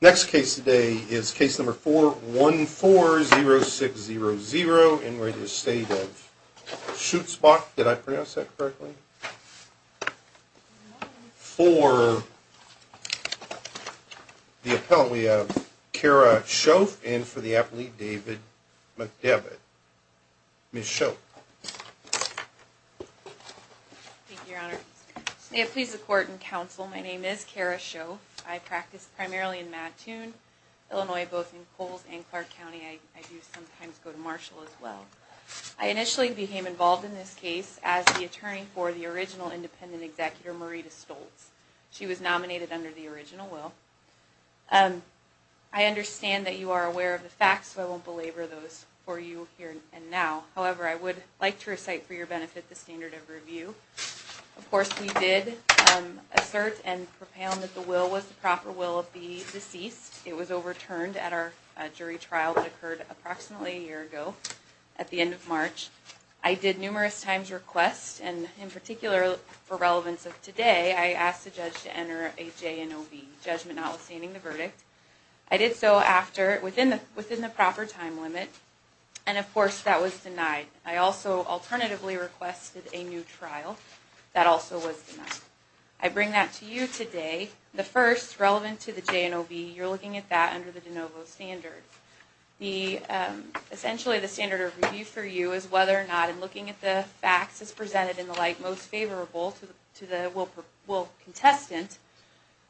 Next case today is case number 4 1 4 0 6 0 0 in re the state of Schutzbach. Did I pronounce that correctly? For the appellant we have Kara Schof and for the primarily in Mattoon, Illinois, both in Coles and Clark County. I do sometimes go to Marshall as well. I initially became involved in this case as the attorney for the original independent executor Marita Stoltz. She was nominated under the original will. I understand that you are aware of the facts so I won't belabor those for you here and now. However, I would like to recite for your benefit the standard of review. Of course we did assert and propound that the will was the deceased. It was overturned at our jury trial that occurred approximately a year ago at the end of March. I did numerous times request and in particular for relevance of today I asked the judge to enter a JNOB, judgment not withstanding the verdict. I did so after within the within the proper time limit and of course that was denied. I also alternatively requested a new trial that also was denied. I bring that to you today. The first relevant to the JNOB, you're looking at that under the de novo standard. Essentially the standard of review for you is whether or not and looking at the facts as presented in the light most favorable to the will contestant,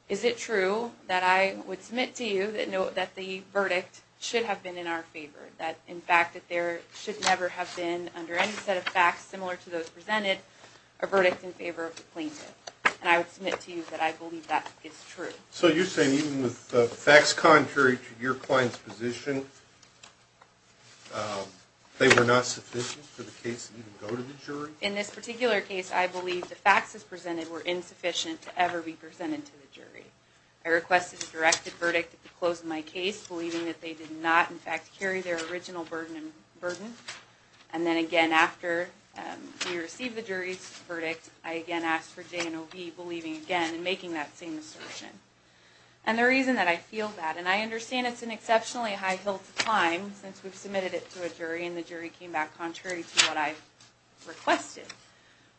is it true that I would submit to you that the verdict should have been in our favor? That in fact that there should never have been under any set of facts similar to those presented a verdict in favor of the plaintiff and I would submit to you that I believe that it's true. So you're saying even with the facts contrary to your client's position they were not sufficient for the case to go to the jury? In this particular case I believe the facts as presented were insufficient to ever be presented to the jury. I requested a directed verdict to close my case believing that they did not in fact carry their original burden and burden and then again after we received the I again asked for JNOB believing again and making that same assertion. And the reason that I feel that, and I understand it's an exceptionally high hill to climb since we've submitted it to a jury and the jury came back contrary to what I requested,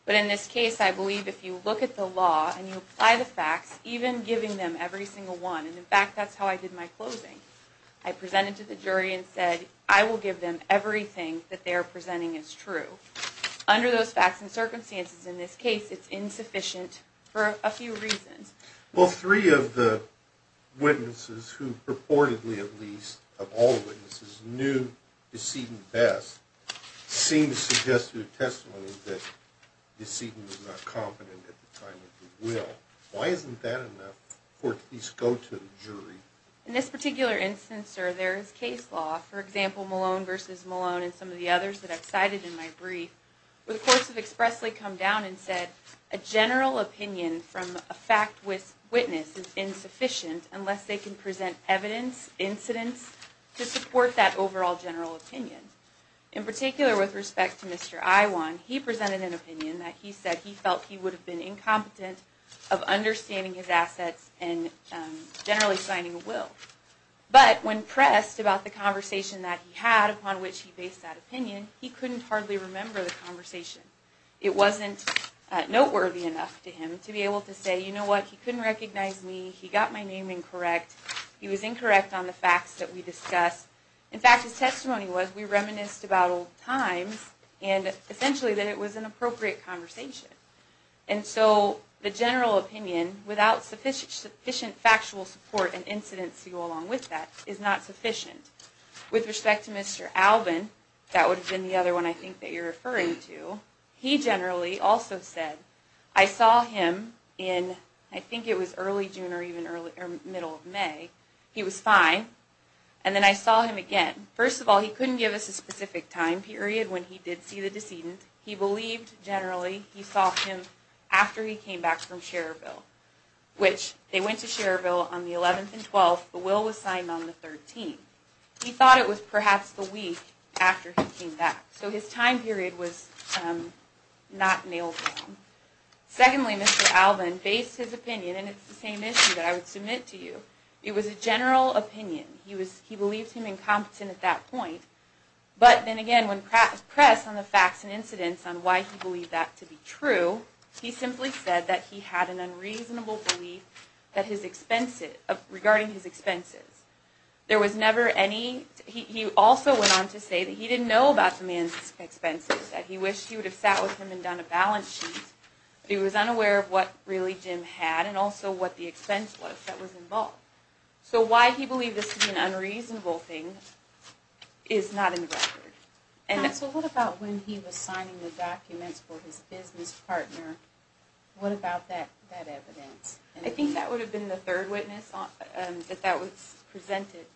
but in this case I believe if you look at the law and you apply the facts even giving them every single one, and in fact that's how I did my closing, I presented to the jury and said I will give them everything that they are presenting is true. Under those facts and circumstances in this case it's insufficient for a few reasons. Well three of the witnesses who purportedly at least of all witnesses knew Decedent best seem to suggest through testimony that Decedent was not competent at the time of the will. Why isn't that enough for it to at least go to the jury? In this particular instance sir there is for example Malone versus Malone and some of the others that I've cited in my brief, the courts have expressly come down and said a general opinion from a fact witness is insufficient unless they can present evidence, incidents to support that overall general opinion. In particular with respect to Mr. Iwan, he presented an opinion that he said he felt he would have been incompetent of understanding his assets and generally signing a will. But when pressed about the conversation that he had upon which he based that opinion he couldn't hardly remember the conversation. It wasn't noteworthy enough to him to be able to say you know what he couldn't recognize me, he got my name incorrect, he was incorrect on the facts that we discussed. In fact his testimony was we reminisced about old times and essentially that it was an appropriate conversation. And so the general opinion without sufficient factual support and incidents to go along with that is not sufficient. With respect to Mr. Alvin, that would have been the other one I think that you're referring to, he generally also said I saw him in I think it was early June or even early or middle of May, he was fine and then I saw him again. First of all he couldn't give us a specific time period when he did see the decedent. He believed generally he saw him after he came back from Cherville, which they went to Cherville on the 11th and 12th, the will was signed on the 13th. He thought it was perhaps the week after he came back. So his time period was not nailed down. Secondly Mr. Alvin based his opinion and it's the same issue that I would But then again when pressed on the facts and incidents on why he believed that to be true, he simply said that he had an unreasonable belief that his expenses, regarding his expenses. There was never any, he also went on to say that he didn't know about the man's expenses, that he wished he would have sat with him and done a balance sheet. He was unaware of what really Jim had and also what the expense was that was involved. So why he believed this to be an unreasonable thing is not in the record. And so what about when he was signing the documents for his business partner? What about that evidence? I think that would have been the third witness that that was presented.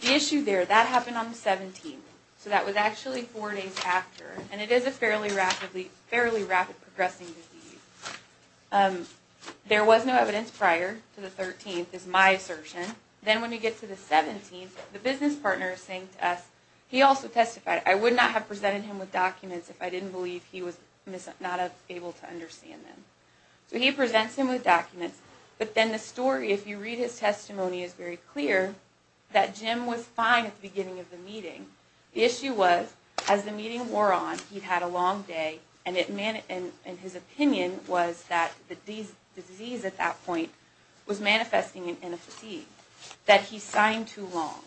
The issue there, that happened on the 17th. So that was actually four days after and it is a fairly rapidly, fairly rapid progressing disease. There was no evidence prior to the 13th is my assertion. Then when you get to the 17th, the business partner is saying to us, he also testified, I would not have presented him with documents if I didn't believe he was not able to understand them. So he presents him with documents, but then the story if you read his testimony is very clear that Jim was fine at the beginning of the meeting. The issue was as the meeting wore on, he'd had a long day and in his opinion was that the disease at that point was manifesting in a fatigue, that he signed too long,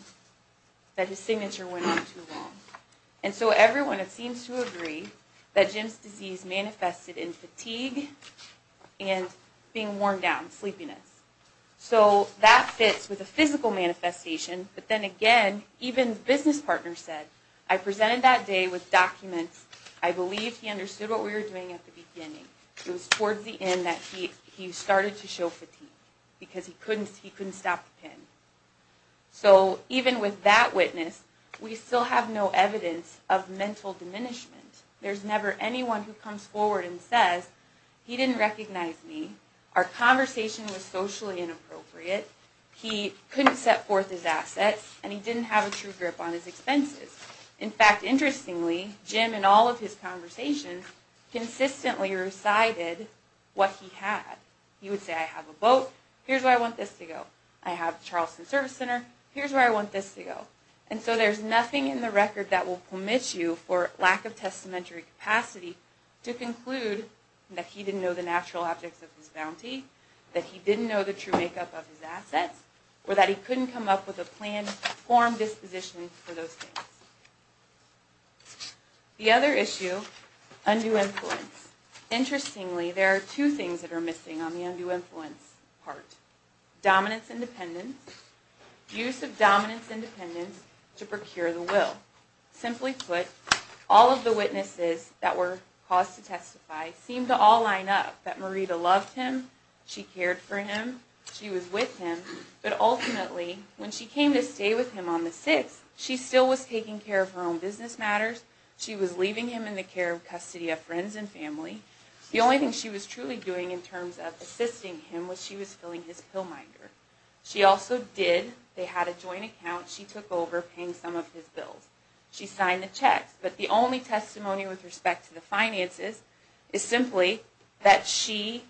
that his signature went on too long. And so everyone it seems to agree that Jim's disease manifested in fatigue and being worn down, sleepiness. So that fits with a physical manifestation, but then again even business partner said, I presented that day with documents. I believe he understood what we were doing at the beginning. It was towards the end that he started to show fatigue because he couldn't stop the pen. So even with that witness, we still have no evidence of mental diminishment. There's never anyone who comes forward and says, he didn't recognize me. Our conversation was socially inappropriate. He couldn't set forth his assets and he didn't have a true grip on his expenses. In fact, interestingly, Jim in all of his conversations consistently recited what he had. He would say, I have a boat, here's where I want this to go. I have Charleston Service Center, here's where I want this to go. And so there's nothing in the record that will permit you for lack of testamentary capacity to conclude that he didn't know the natural objects of his bounty, that he didn't know the true makeup of his assets, or that he couldn't come up with a planned form disposition for those things. The other issue, undue influence. Interestingly, there are two things that are missing on the undue influence part. Dominance and dependence, use of dominance and dependence to procure the will. Simply put, all of the witnesses that were caused to testify seemed to all line up that Marita loved him, she cared for him, she was with him. But ultimately, when she came to stay with him on the 6th, she still was taking care of her own business matters, she was leaving him in the care of custody of friends and family. The only thing she was truly doing in terms of assisting him was she was filling his pill minder. She also did, they had a joint account, she took over paying some of his bills. She signed the checks. But the only testimony with respect to the finances is simply that she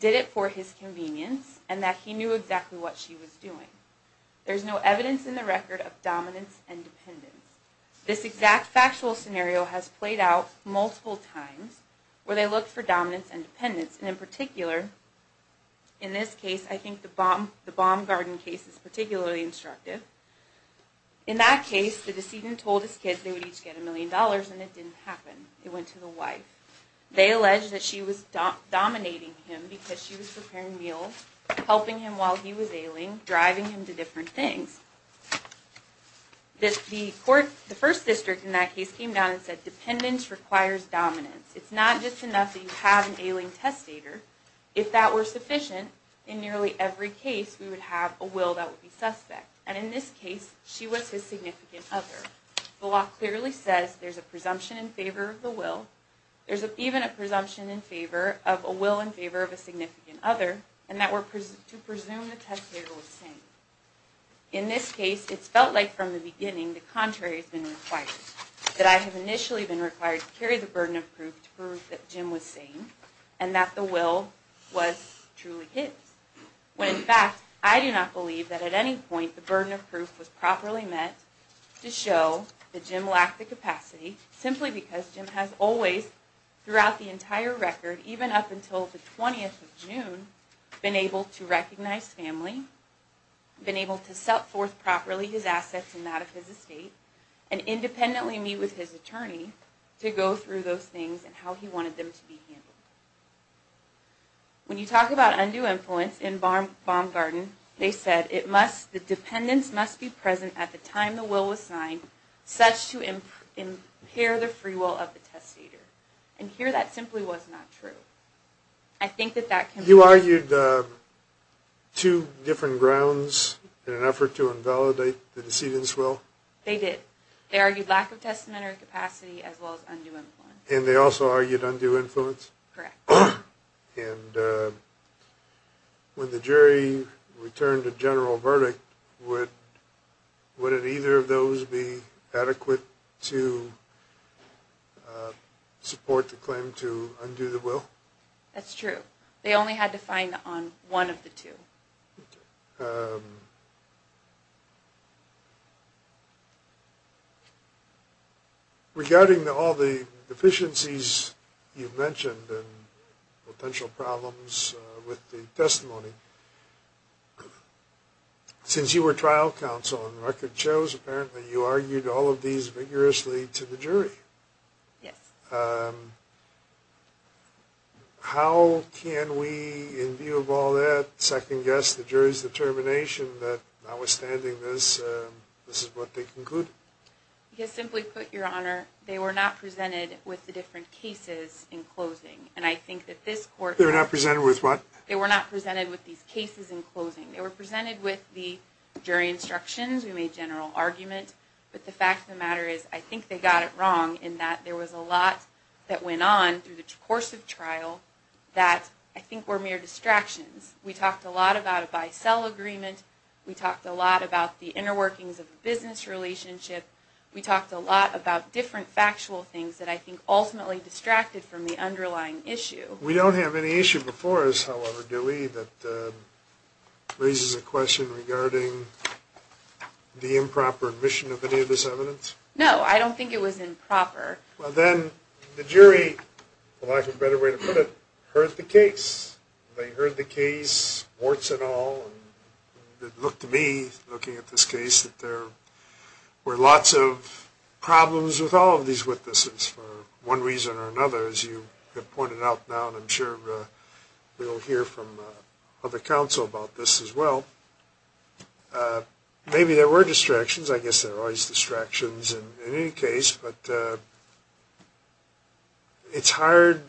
did it for his convenience and that he knew exactly what she was doing. There's no evidence in the record of dominance and dependence. This exact factual scenario has played out multiple times where they looked for dominance and dependence, and in particular, in this case, I think the Baumgarten case is particularly instructive. In that case, the decedent told his kids they would each get a million dollars, and it didn't happen. It went to the wife. They alleged that she was dominating him because she was preparing meals, helping him while he was ailing, driving him to different things. The first district in that case came down and said, dependence requires dominance. It's not just enough that you have an ailing testator. If that were sufficient, in nearly every case, we would have a will that would be suspect. And in this case, she was his significant other. The law clearly says there's a presumption in favor of the will. There's even a presumption in favor of a will in favor of a significant other, and that were to presume the testator was sane. In this case, it's felt like from the beginning the contrary has been required. That I have initially been required to carry the burden of proof to prove that Jim was sane, and that the will was truly his. When in fact, I do not believe that at any point the burden of proof was properly met to show that Jim lacked the capacity, simply because Jim has always, throughout the entire record, even up until the 20th of June, been able to recognize family, been able to set forth properly his assets and that of his estate, and independently meet with his attorney to go through those things and how he wanted them to be handled. When you talk about undue influence in Baumgarten, they said it must, the dependents must be present at the time the will was signed, such to impair the free will of the testator. And here that simply was not true. I think that that can... You argued two different grounds in an effort to invalidate the decedent's capacity as well as undue influence. And they also argued undue influence? Correct. And when the jury returned a general verdict, would either of those be adequate to support the claim to undo the will? That's true. They only had to find on one of the two. Regarding all the deficiencies you've mentioned and potential problems with the testimony, since you were trial counsel and record shows apparently you argued all of these vigorously to the jury. Yes. How can we, in view of all that, second-guess the jury's determination that notwithstanding this, this is what they concluded? Simply put, Your Honor, they were not presented with the different cases in closing. And I think that this court... They were not presented with what? They were not presented with these cases in closing. They were presented with the jury instructions. We made general argument. But the fact of the matter is, I think they got it wrong in that there was a lot that went on through the course of trial that I think were mere distractions. We talked a lot about a bisell agreement. We talked a lot about the inner workings of a business relationship. We talked a lot about different factual things that I think ultimately distracted from the underlying issue. We don't have any issue before us, however, do we, that raises a question regarding the improper admission of any of this evidence? No, I don't think it was improper. Well, then the jury, for lack of a better way to put it, heard the case. They heard the case, warts and all. It looked to me, looking at this case, that there were lots of problems with all of these witnesses for one reason or another, as you have pointed out now, and I'm sure we'll hear from other counsel about this as well. Maybe there were distractions. I guess there are always distractions in any case, but it's hard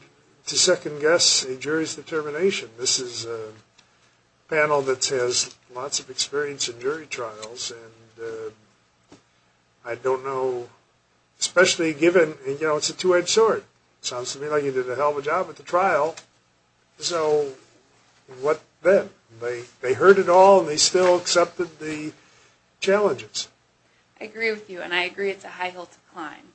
to second-guess a jury's determination. This is a panel that has lots of experience in jury trials, and I don't know, especially given, you know, it's a two-edged sword. Sounds to me like they did a hell of a job at the trial. So, what then? They heard it all, and they still accepted the challenges. I agree with you, and I agree it's a high hill to climb.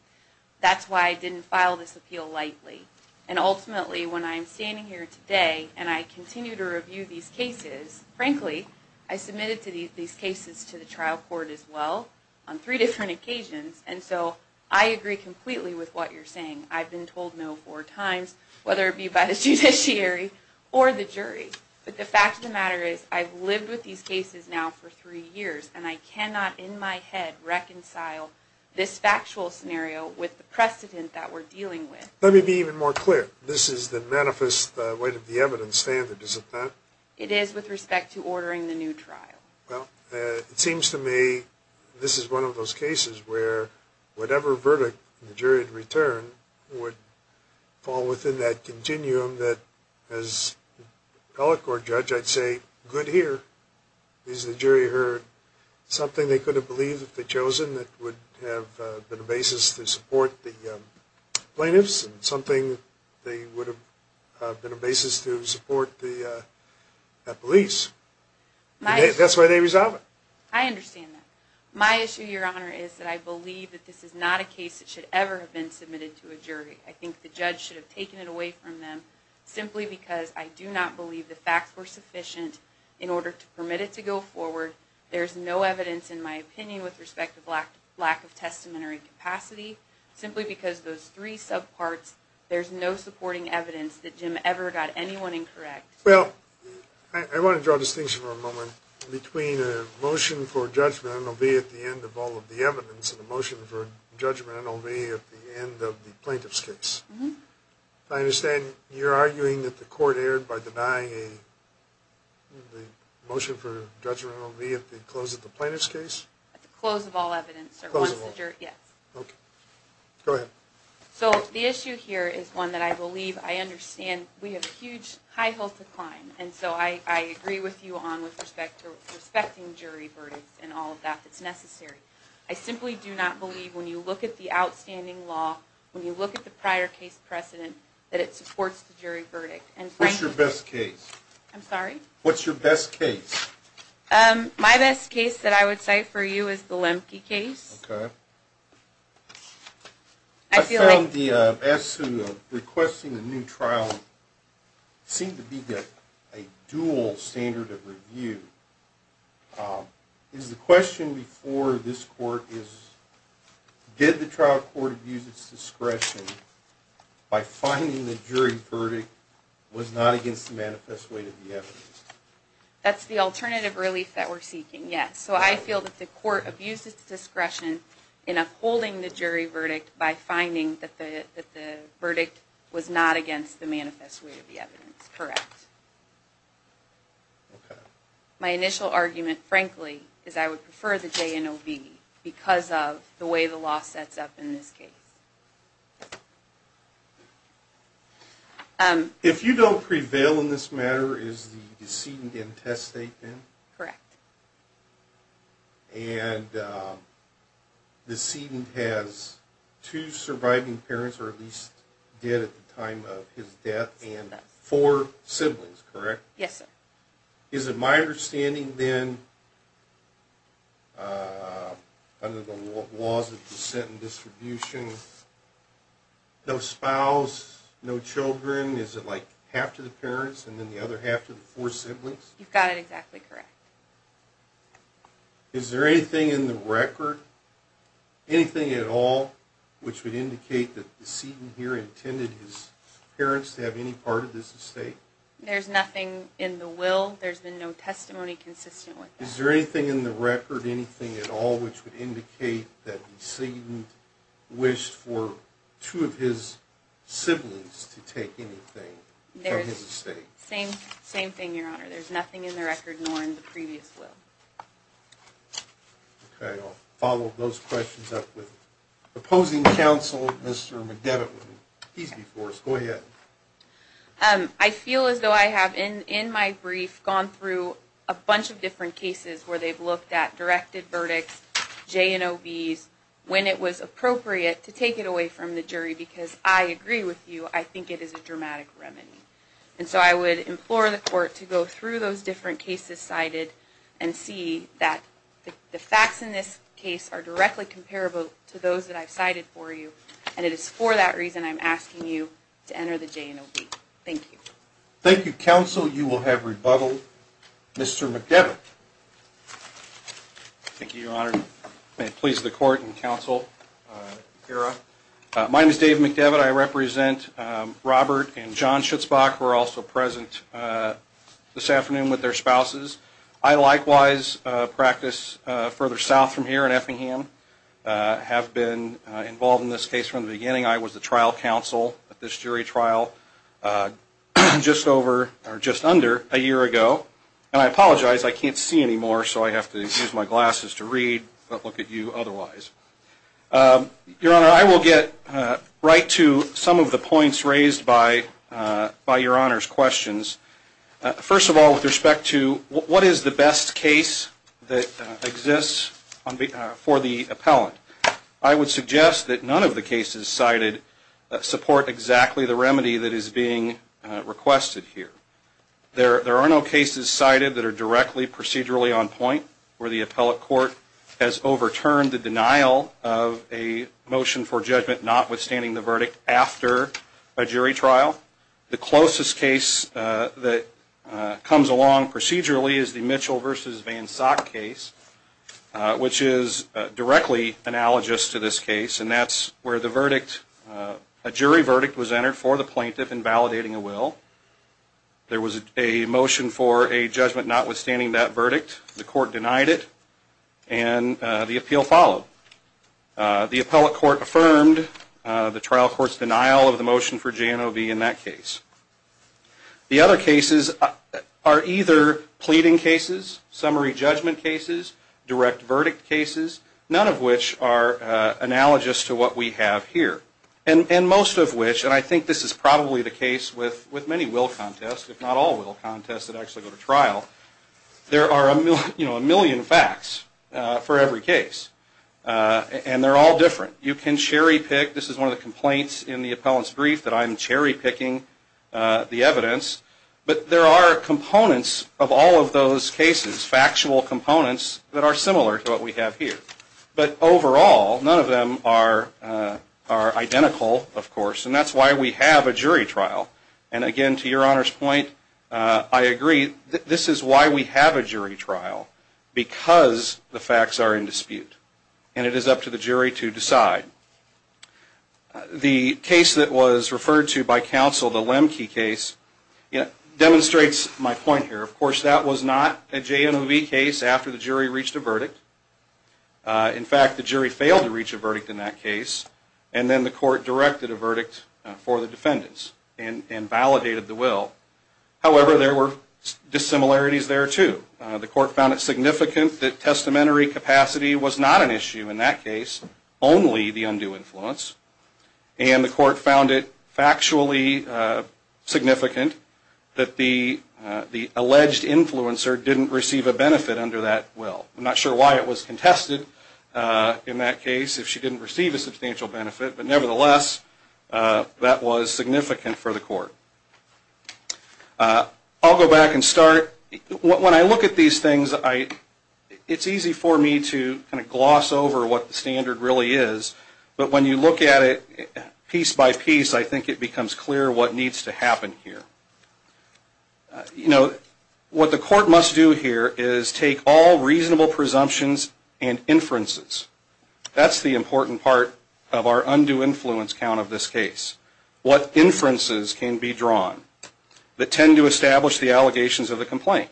That's why I didn't file this appeal lightly, and ultimately, when I'm standing here today, and I continue to review these cases, frankly, I submitted these cases to the trial court as well, on three different occasions, and so I agree completely with what you're saying. I've been told no four times, whether it be by the judiciary or the jury, but the fact of the matter is, I've lived with these cases now for three years, and I cannot, in my head, reconcile this factual scenario with the precedent that we're dealing with. Let me be even more clear. This is the manifest weight of the evidence standard, isn't that? It is, with respect to ordering the new trial. Well, it seems to me this is one of those cases where whatever verdict the jury had returned would fall within that continuum that, as an appellate court judge, I'd say, good here, because the jury heard something they could have believed if they'd chosen that would have been a basis to support the plaintiffs, and something that would have been a basis to support the police. That's why they resolve it. I understand that. My issue, Your Honor, is that I believe that this is not a case that should ever have been submitted to a jury. I think the judge should have taken it away from them, simply because I do not believe the facts were sufficient in order to permit it to go forward. There's no evidence, in my opinion, with respect to lack of testimony or incapacity, simply because those three subparts, there's no supporting evidence that Jim ever got anyone incorrect. Well, I want to draw a distinction for a moment between a motion for judgment, NLV, at the end of all of the evidence, and a motion for judgment, NLV, at the end of the plaintiff's case. I understand you're arguing that the court erred by denying a motion for judgment, NLV, at the close of the plaintiff's case? At the close of all evidence, sir. Close of all? Yes. Okay. Go ahead. So, the issue here is one that I believe, I understand, we have a huge high health decline, and so I agree with you on with respect to respecting jury verdicts and all of that that's necessary. I simply do not believe, when you look at the outstanding law, when you look at the prior case precedent, that it supports the jury verdict. What's your best case? I'm sorry? What's your best case? My best case that I would cite for you is the Lemke case. Okay. I feel like... I found the issue of requesting a new trial seemed to be a dual standard of review. Is the question before this court is, did the trial court abuse its discretion by finding the jury verdict was not against the manifest weight of the evidence? That's the alternative relief that we're seeking, yes. So I feel that the court abused its discretion in upholding the jury verdict by finding that the verdict was not against the manifest weight of the evidence, correct. Okay. My initial argument, frankly, is I would prefer the JNOV because of the way the law sets up in this case. If you don't prevail in this matter, is the decedent intestate then? Correct. And the decedent has two surviving parents, or at least dead at the time of his death, and four siblings, correct? Yes, sir. Is it my understanding then, under the laws of descent and distribution, no spouse, no children, is it like half to the parents and then the other half to the four siblings? You've got it exactly correct. Is there anything in the record, anything at all, which would indicate that the decedent here intended his parents to have any part of this estate? There's nothing in the will. There's been no testimony consistent with that. Is there anything in the record, anything at all, which would indicate that the decedent wished for two of his siblings to take anything from his estate? Same thing, Your Honor. There's nothing in the record nor in the previous will. Okay. I'll follow those questions up with opposing counsel, Mr. McDevitt. He's before us. Go ahead. I feel as though I have, in my brief, gone through a bunch of different cases where they've looked at directed verdicts, J&OBs, when it was appropriate to take it away from the jury because I agree with you, I think it is a dramatic remedy. And so I would implore the court to go through those different cases cited and see that the facts in this case are directly comparable to those that I've cited for you and it is for that reason I'm asking you to enter the J&OB. Thank you. Thank you, counsel. You will have rebuttal. Mr. McDevitt. Thank you, Your Honor. May it please the court and counsel. My name is Dave McDevitt. I represent Robert and John Schutzbach, who are also present this afternoon with their spouses. I likewise practice further south from here in Effingham. I have been involved in this case from the beginning. I was the trial counsel at this jury trial just under a year ago. And I apologize, I can't see anymore so I have to use my glasses to read but look at you otherwise. Your Honor, I will get right to some of the points raised by Your Honor's questions. First of all, with respect to what is the best case that exists for the appellant, I would suggest that none of the cases cited support exactly the remedy that is being requested here. There are no cases cited that are directly procedurally on point where the appellate court has overturned the denial of a motion for judgment notwithstanding the verdict after a jury trial. The closest case that comes along procedurally is the Mitchell v. Van Sack case, which is directly analogous to this case and that's where the verdict, a jury verdict was entered for the plaintiff in validating a will. There was a motion for a judgment notwithstanding that verdict. The court denied it and the appeal followed. The appellate court affirmed the trial court's denial of the motion for J&OB in that case. The other cases are either pleading cases, summary judgment cases, direct verdict cases, none of which are analogous to what we have here. And most of which, and I think this is probably the case with many will contests, if not all will contests that actually go to trial, there are a million facts for every case. And they're all different. You can cherry pick, this is one of the complaints in the appellant's brief that I'm cherry picking the evidence, but there are components of all of those cases, factual components, that are similar to what we have here. But overall, none of them are identical, of course, and that's why we have a jury trial. And again, to your Honor's point, I agree, this is why we have a jury trial, because the facts are in dispute. And it is up to the jury to decide. The case that was referred to by counsel, the Lemke case, demonstrates my point here. Of course, that was not a J&OB case after the jury reached a verdict. In fact, the jury failed to reach a verdict in that case and then the court directed a verdict for the defendants. And validated the will. However, there were dissimilarities there too. The court found it significant that testamentary capacity was not an issue in that case, only the undue influence. And the court found it factually significant that the alleged influencer didn't receive a benefit under that will. I'm not sure why it was contested in that case if she didn't receive a substantial benefit, but nevertheless, that was significant for the court. I'll go back and start. When I look at these things, it's easy for me to gloss over what the standard really is. But when you look at it piece by piece, I think it becomes clear what needs to happen here. You know, what the court must do here is take all reasonable presumptions and inferences. That's the important part of our undue influence count of this case. What inferences can be drawn that tend to establish the allegations of the complaint.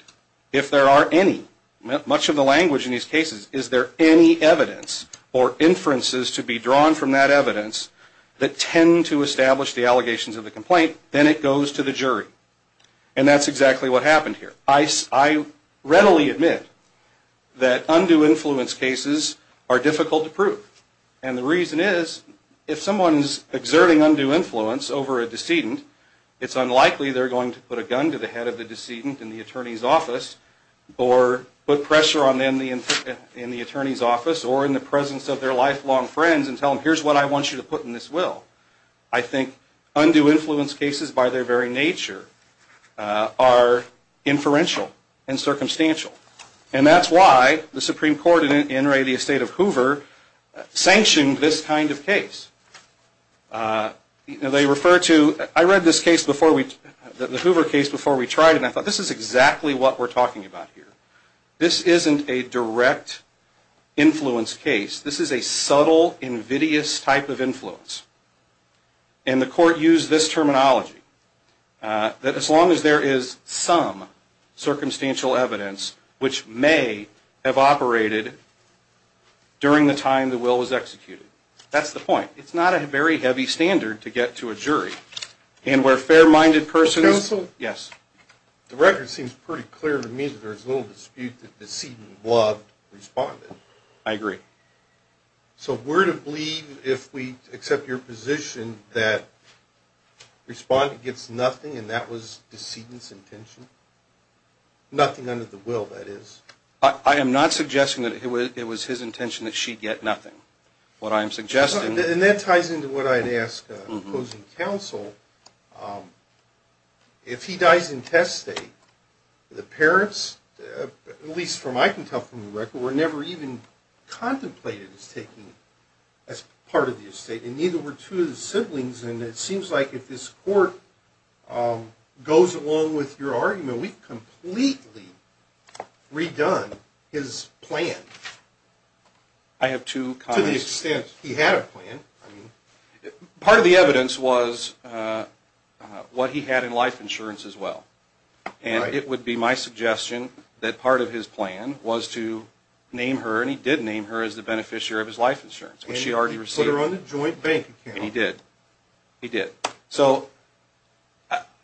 If there are any, much of the language in these cases, is there any evidence or inferences to be drawn from that evidence that tend to establish the allegations of the complaint, then it goes to the jury. And that's exactly what happened here. I readily admit that undue influence cases are difficult to prove. And the reason is, if someone is exerting undue influence over a decedent, it's unlikely they're going to put a gun to the head of the decedent in the attorney's office, or put pressure on them in the attorney's office, or in the presence of their lifelong friends and tell them, here's what I want you to put in this will. I think undue influence cases, by their very nature, are inferential and circumstantial. And that's why the Supreme Court in Inouye, the estate of Hoover, sanctioned this kind of case. They refer to... I read this case before we... the Hoover case before we tried it, and I thought, this is exactly what we're talking about here. This isn't a direct influence case. This is a subtle, invidious type of influence. And the court used this terminology. That as long as there is some circumstantial evidence which may have operated during the time the will was executed. That's the point. It's not a very heavy standard to get to a jury. And where a fair-minded person... Counsel? Yes. The record seems pretty clear to me that there's little dispute that the decedent loved the respondent. I agree. So we're to believe, if we accept your position, that the respondent gets nothing, and that was the decedent's intention? Nothing under the will, that is. I am not suggesting that it was his intention that she get nothing. What I am suggesting... And that ties into what I had asked opposing counsel. If he dies in test state, the parents, at least from what I can tell from the record, were never even contemplated as taking... as part of the estate. And neither were two of the siblings. And it seems like if this court goes along with your argument, we've completely redone his plan. I have two comments. To the extent he had a plan. Part of the evidence was what he had in life insurance as well. And it would be my suggestion that part of his plan was to name her, and he did name her, as the beneficiary of his life insurance, which she already received. He put her on the joint bank account. He did. So,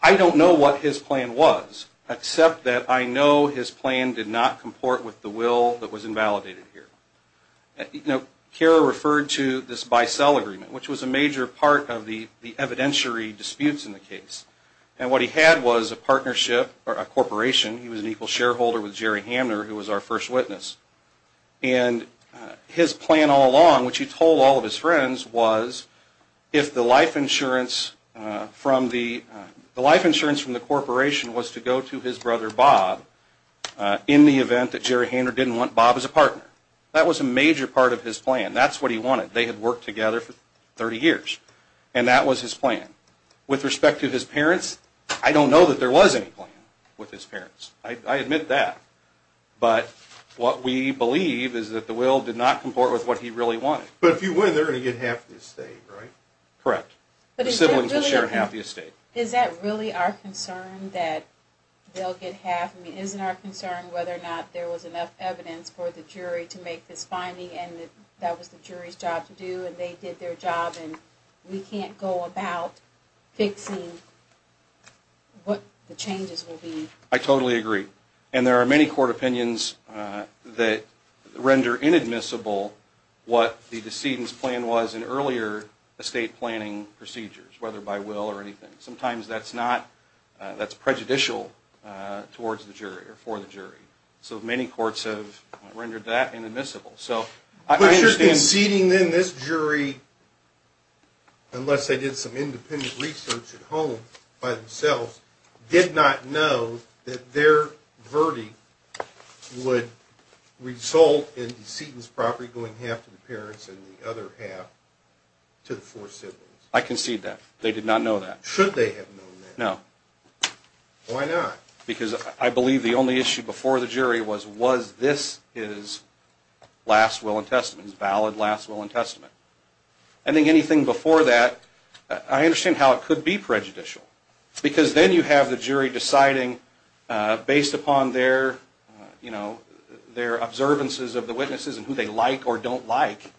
I don't know what his plan was. Except that I know his plan did not comport with the will that was invalidated here. Kara referred to this buy-sell agreement, which was a major part of the evidentiary disputes in the case. And what he had was a partnership, or a corporation, he was an equal shareholder with Jerry Hamner, who was our first witness. And his plan all along, which he told all of his friends, was if the life insurance from the corporation was to go to his brother, Bob, in the event that Jerry Hamner didn't want Bob as a partner. That was a major part of his plan. That's what he wanted. They had worked together for 30 years. And that was his plan. With respect to his parents, I don't know that there was any plan with his parents. I admit that. But what we believe is that the will did not comport with what he really wanted. But if you win, they're going to get half the estate, right? Correct. The siblings will share half the estate. Is that really our concern? That they'll get half? Isn't our concern whether or not there was enough evidence for the jury to make this finding, and that was the jury's job to do, and they did their job, and we can't go about fixing what the changes will be? I totally agree. And there are many court opinions that render inadmissible what the decedent's plan was in earlier estate planning procedures, whether by will or anything. Sometimes that's prejudicial towards the jury or for the jury. So many courts have rendered that inadmissible. But your conceding then this jury, unless they did some independent research at home by themselves, did not know that their verdict would result in the decedent's property going half to the parents and the other half to the four siblings. I concede that. They did not know that. Should they have known that? No. Why not? Because I believe the only issue before the jury was, was this his last will and testament, his valid last will and testament? I think anything before that, I understand how it could be prejudicial. Because then you have the jury deciding based upon their, you know, their observances of the witnesses and who they like or don't like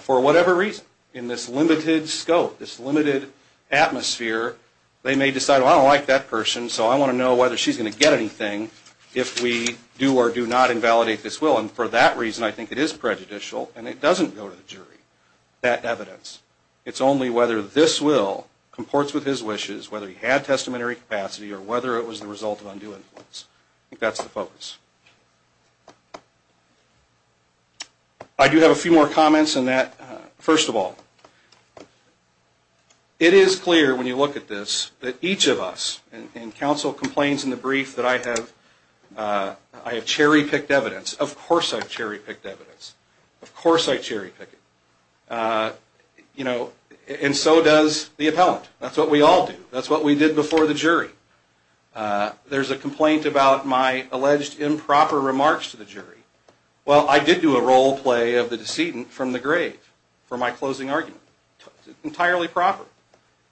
for whatever reason. In this limited scope, this limited atmosphere, they may decide I don't like that person so I want to know whether she's going to get anything if we do or do not invalidate this will and for that reason I think it is prejudicial and it doesn't go to the jury. That evidence. It's only whether this will comports with his wishes, whether he had testamentary capacity or whether it was the result of undue influence. I think that's the focus. I do have a few more comments on that. First of all, it is clear when you look at this that each of us, and counsel complains in the brief that I have cherry-picked evidence. Of course I've cherry-picked evidence. Of course I cherry-pick it. You know, and so does the appellant. That's what we all do. That's what we did before the jury. There's a complaint about my alleged improper remarks to the jury. Well, I did do a role-play of the decedent from the grave for my closing argument. Entirely proper.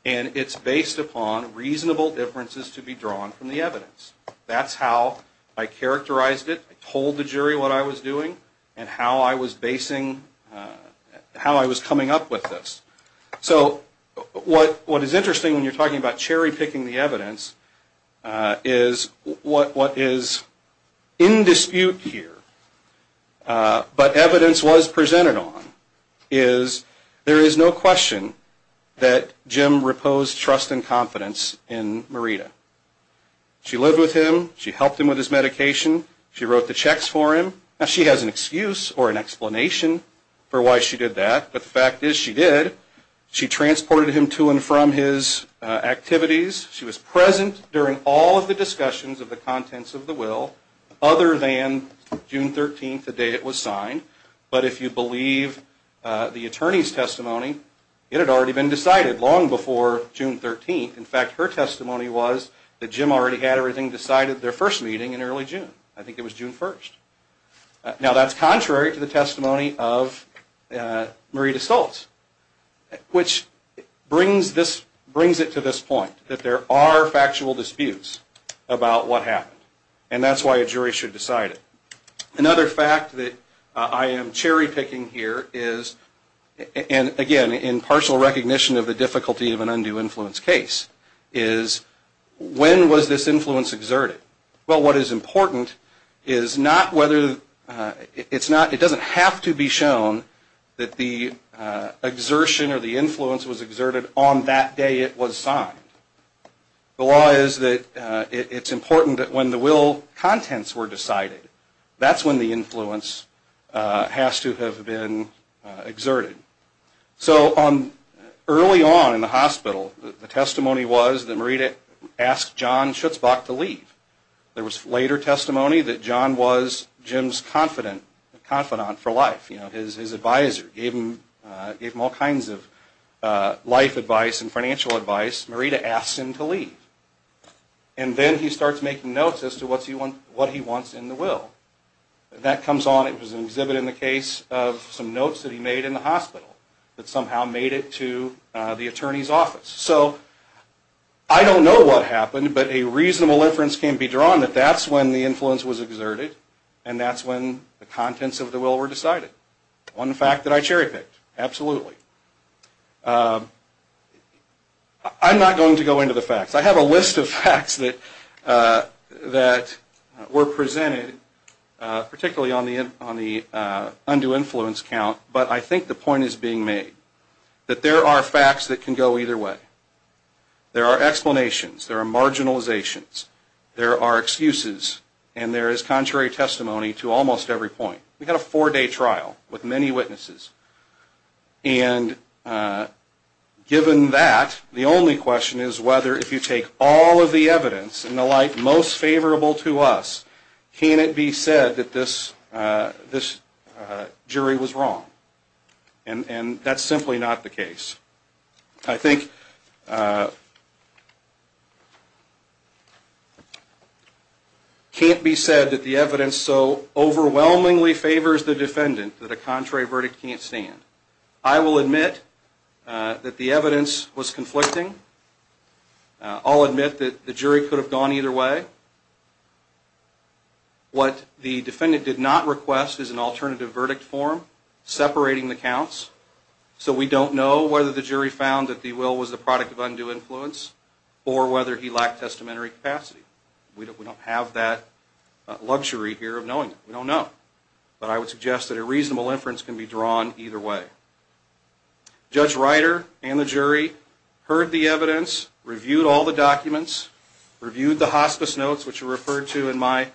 And it's based upon reasonable differences to be drawn from the evidence. That's how I characterized it. I told the jury what I was doing and how I was basing, how I was coming up with this. So, what is interesting when you're talking about cherry-picking the evidence is what is in dispute here, but evidence was presented on, is there is no question that Jim reposed trust and confidence in Marita. She lived with him. She helped him with his medication. She wrote the checks for him. Now, she has an excuse or an explanation for why she did that, but the fact is she did. She transported him to and from his activities. She was present during all of the discussions of the contents of the will, other than June 13th, the day it was signed. But if you believe the attorney's testimony, it had already been decided long before June 13th. In fact, her testimony was that in early June. I think it was June 1st. Now, that's contrary to the testimony of Marita Stoltz, which brings it to this point, that there are factual disputes about what happened, and that's why a jury should decide it. Another fact that I am cherry-picking here is, again, in partial recognition of the difficulty of an undue influence case, is when was this influence exerted? Well, what is important is not whether it's not, it doesn't have to be shown that the exertion or the influence was exerted on that day it was signed. The law is that it's important that when the will contents were decided, that's when the influence has to have been exerted. So, early on in the hospital, the testimony was that Marita asked John Schutzbach to leave. There was later testimony that John was Jim's confidant for life. His advisor gave him all kinds of life advice and financial advice. Marita asks him to leave. And then he starts making notes as to what he wants in the will. That comes on, it was an exhibit in the case of some notes that he made in the hospital, that somehow made it to the attorney's desk. I don't know what happened, but a reasonable inference can be drawn that that's when the influence was exerted and that's when the contents of the will were decided. One fact that I cherry picked, absolutely. I'm not going to go into the facts. I have a list of facts that were presented, particularly on the undue influence count, but I think the point is being made. That there are facts that can go either way. There are explanations, there are marginalizations, there are excuses, and there is contrary testimony to almost every point. We had a four day trial with many witnesses. And given that, the only question is whether if you take all of the evidence and the light most favorable to us, can it be said that this jury was wrong? And that's simply not the case. I think it can't be said that the evidence so overwhelmingly favors the defendant that a contrary verdict can't stand. I will admit that the evidence was conflicting. I'll admit that the jury could have gone either way. What the defendant did not request is an alternative verdict form separating the counts. So we don't know whether the jury found that the will was the product of undue influence or whether he lacked testamentary capacity. We don't have that luxury here of knowing it. We don't know. But I would suggest that a reasonable inference can be drawn either way. Judge Reiter and the jury heard the evidence, reviewed all the documents, reviewed the hospice notes which are referred to in my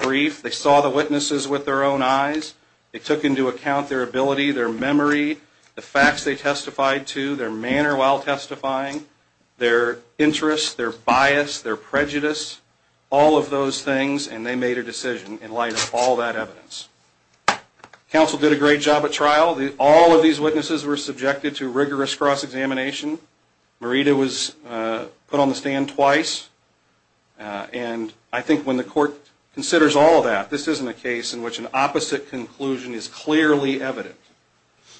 brief. They saw the witnesses with their own eyes, their ability, their memory, the facts they testified to, their manner while testifying, their interests, their bias, their prejudice, all of those things, and they made a decision in light of all that evidence. Counsel did a great job at trial. All of these witnesses were subjected to rigorous cross-examination. Marita was put on the stand twice. And I think when the court considers all of that, this isn't a case in which an opposite conclusion is clearly evident,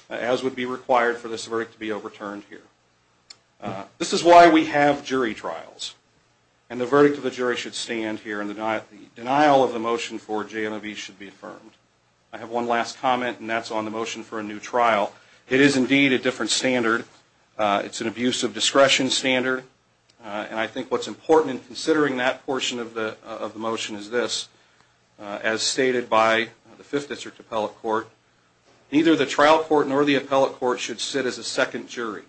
as would be required for this verdict to be overturned here. This is why we have jury trials. And the verdict of the jury should stand here and the denial of the motion for JMOB should be affirmed. I have one last comment, and that's on the motion for a new trial. It is indeed a different standard. It's an abusive discretion standard. And I think what's important in considering that portion of the motion is this. As stated by the Fifth District Appellate Court, neither the trial court nor the appellate court should sit as a second jury.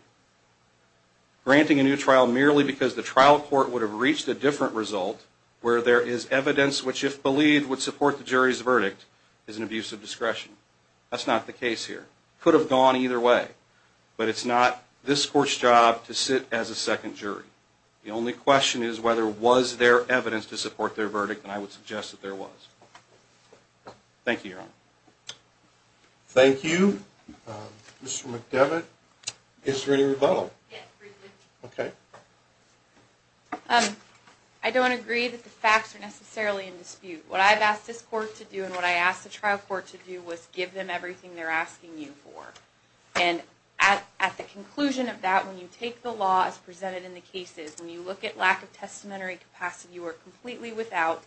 Granting a new trial merely because the trial court would have reached a different result, where there is evidence which if believed would support the jury's verdict, is an abusive discretion. That's not the case here. Could have gone either way. But it's not this court's job to sit as a second jury. The only question is whether was there evidence to support their verdict, and I would suggest that there was. Thank you, Your Honor. Thank you. Mr. McDevitt. Is there any rebuttal? Yes, briefly. I don't agree that the facts are necessarily in dispute. What I've asked this court to do and what I asked the trial court to do was give them everything they're asking you for. And at the conclusion of that, when you take the law as presented in the cases, when you look at the lack of testamentary capacity, you are completely without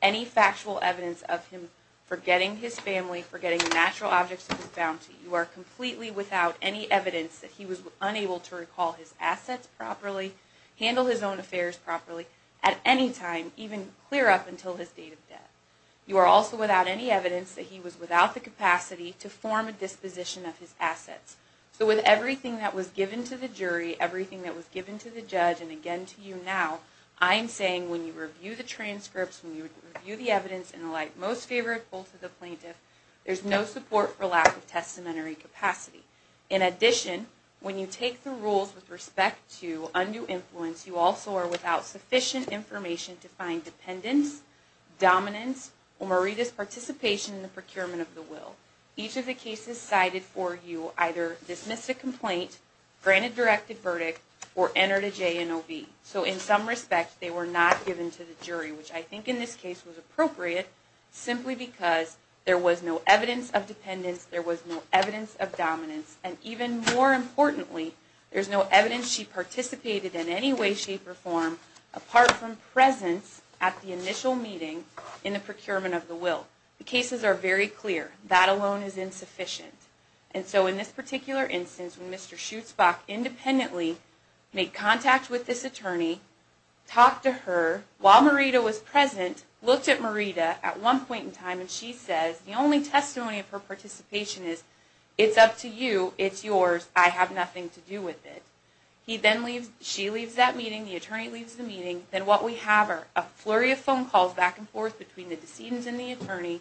any factual evidence of him forgetting his family, forgetting the natural objects of his bounty. You are completely without any evidence that he was unable to recall his assets properly, handle his own affairs properly, at any time, even clear up until his date of death. You are also without any evidence that he was without the capacity to form a disposition of his assets. So with everything that was given to the jury, everything that was given to the judge, and again to you now, I'm saying when you review the transcripts, when you review the evidence and the like, most favorable to the plaintiff, there's no support for lack of testamentary capacity. In addition, when you take the rules with respect to undue influence, you also are without sufficient information to find dependence, dominance, or meritus participation in the procurement of the will. Each of the cases cited for you either dismiss a complaint, grant a directed verdict, or enter a J&OB. So in some respect, they were not given to the jury, which I think in this case was appropriate simply because there was no evidence of dependence, there was no evidence of dominance, and even more importantly, there's no evidence she participated in any way, shape, or form apart from presence at the initial meeting in the procurement of the will. The cases are very clear. That alone is insufficient. And so in this particular instance, when Mr. Schutzbach independently made contact with this attorney, talked to her, while Marita was present, looked at Marita at one point in time, and she says, the only testimony of her participation is it's up to you, it's yours, I have nothing to do with it. He then leaves, she leaves that meeting, the attorney leaves the meeting, then what we have are a flurry of phone calls back and forth between the decedent and the attorney,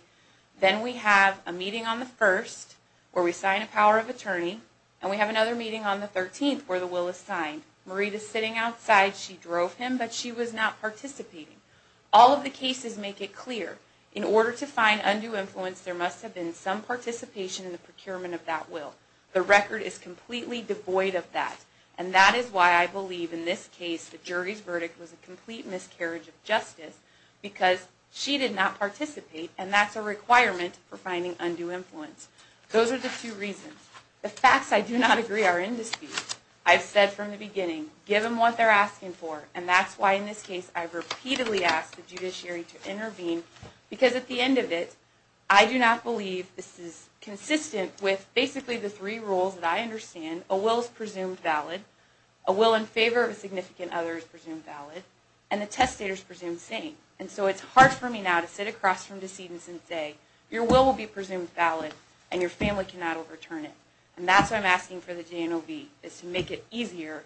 then we have a meeting on the 1st, where we sign a power of attorney, and we have another meeting on the 13th where the will is signed. Marita's sitting outside, she drove him, but she was not participating. All of the cases make it clear in order to find undue influence, there must have been some participation in the procurement of that will. The record is completely devoid of that, and that is why I believe in this case the jury's verdict was a complete miscarriage of justice because she did not participate, and that's a requirement for finding undue influence. Those are the two reasons. The facts I do not agree are in dispute. I've said from the beginning, give them what they're asking for, and that's why in this case I've repeatedly asked the judiciary to intervene, because at the end of it, I do not believe this is consistent with basically the three rules that I understand, a will is presumed valid, a will in favor of a significant other is presumed valid, and the testator is presumed sane, and so it's hard for me now to sit across from decedents and say your will will be presumed valid and your family cannot overturn it, and that's why I'm asking for the J&OB is to make it easier,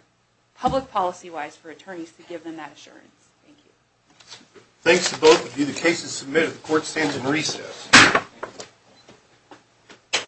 public policy-wise, for attorneys to give them that assurance. Thank you. Thanks to both of you. The case is submitted. The court stands in recess.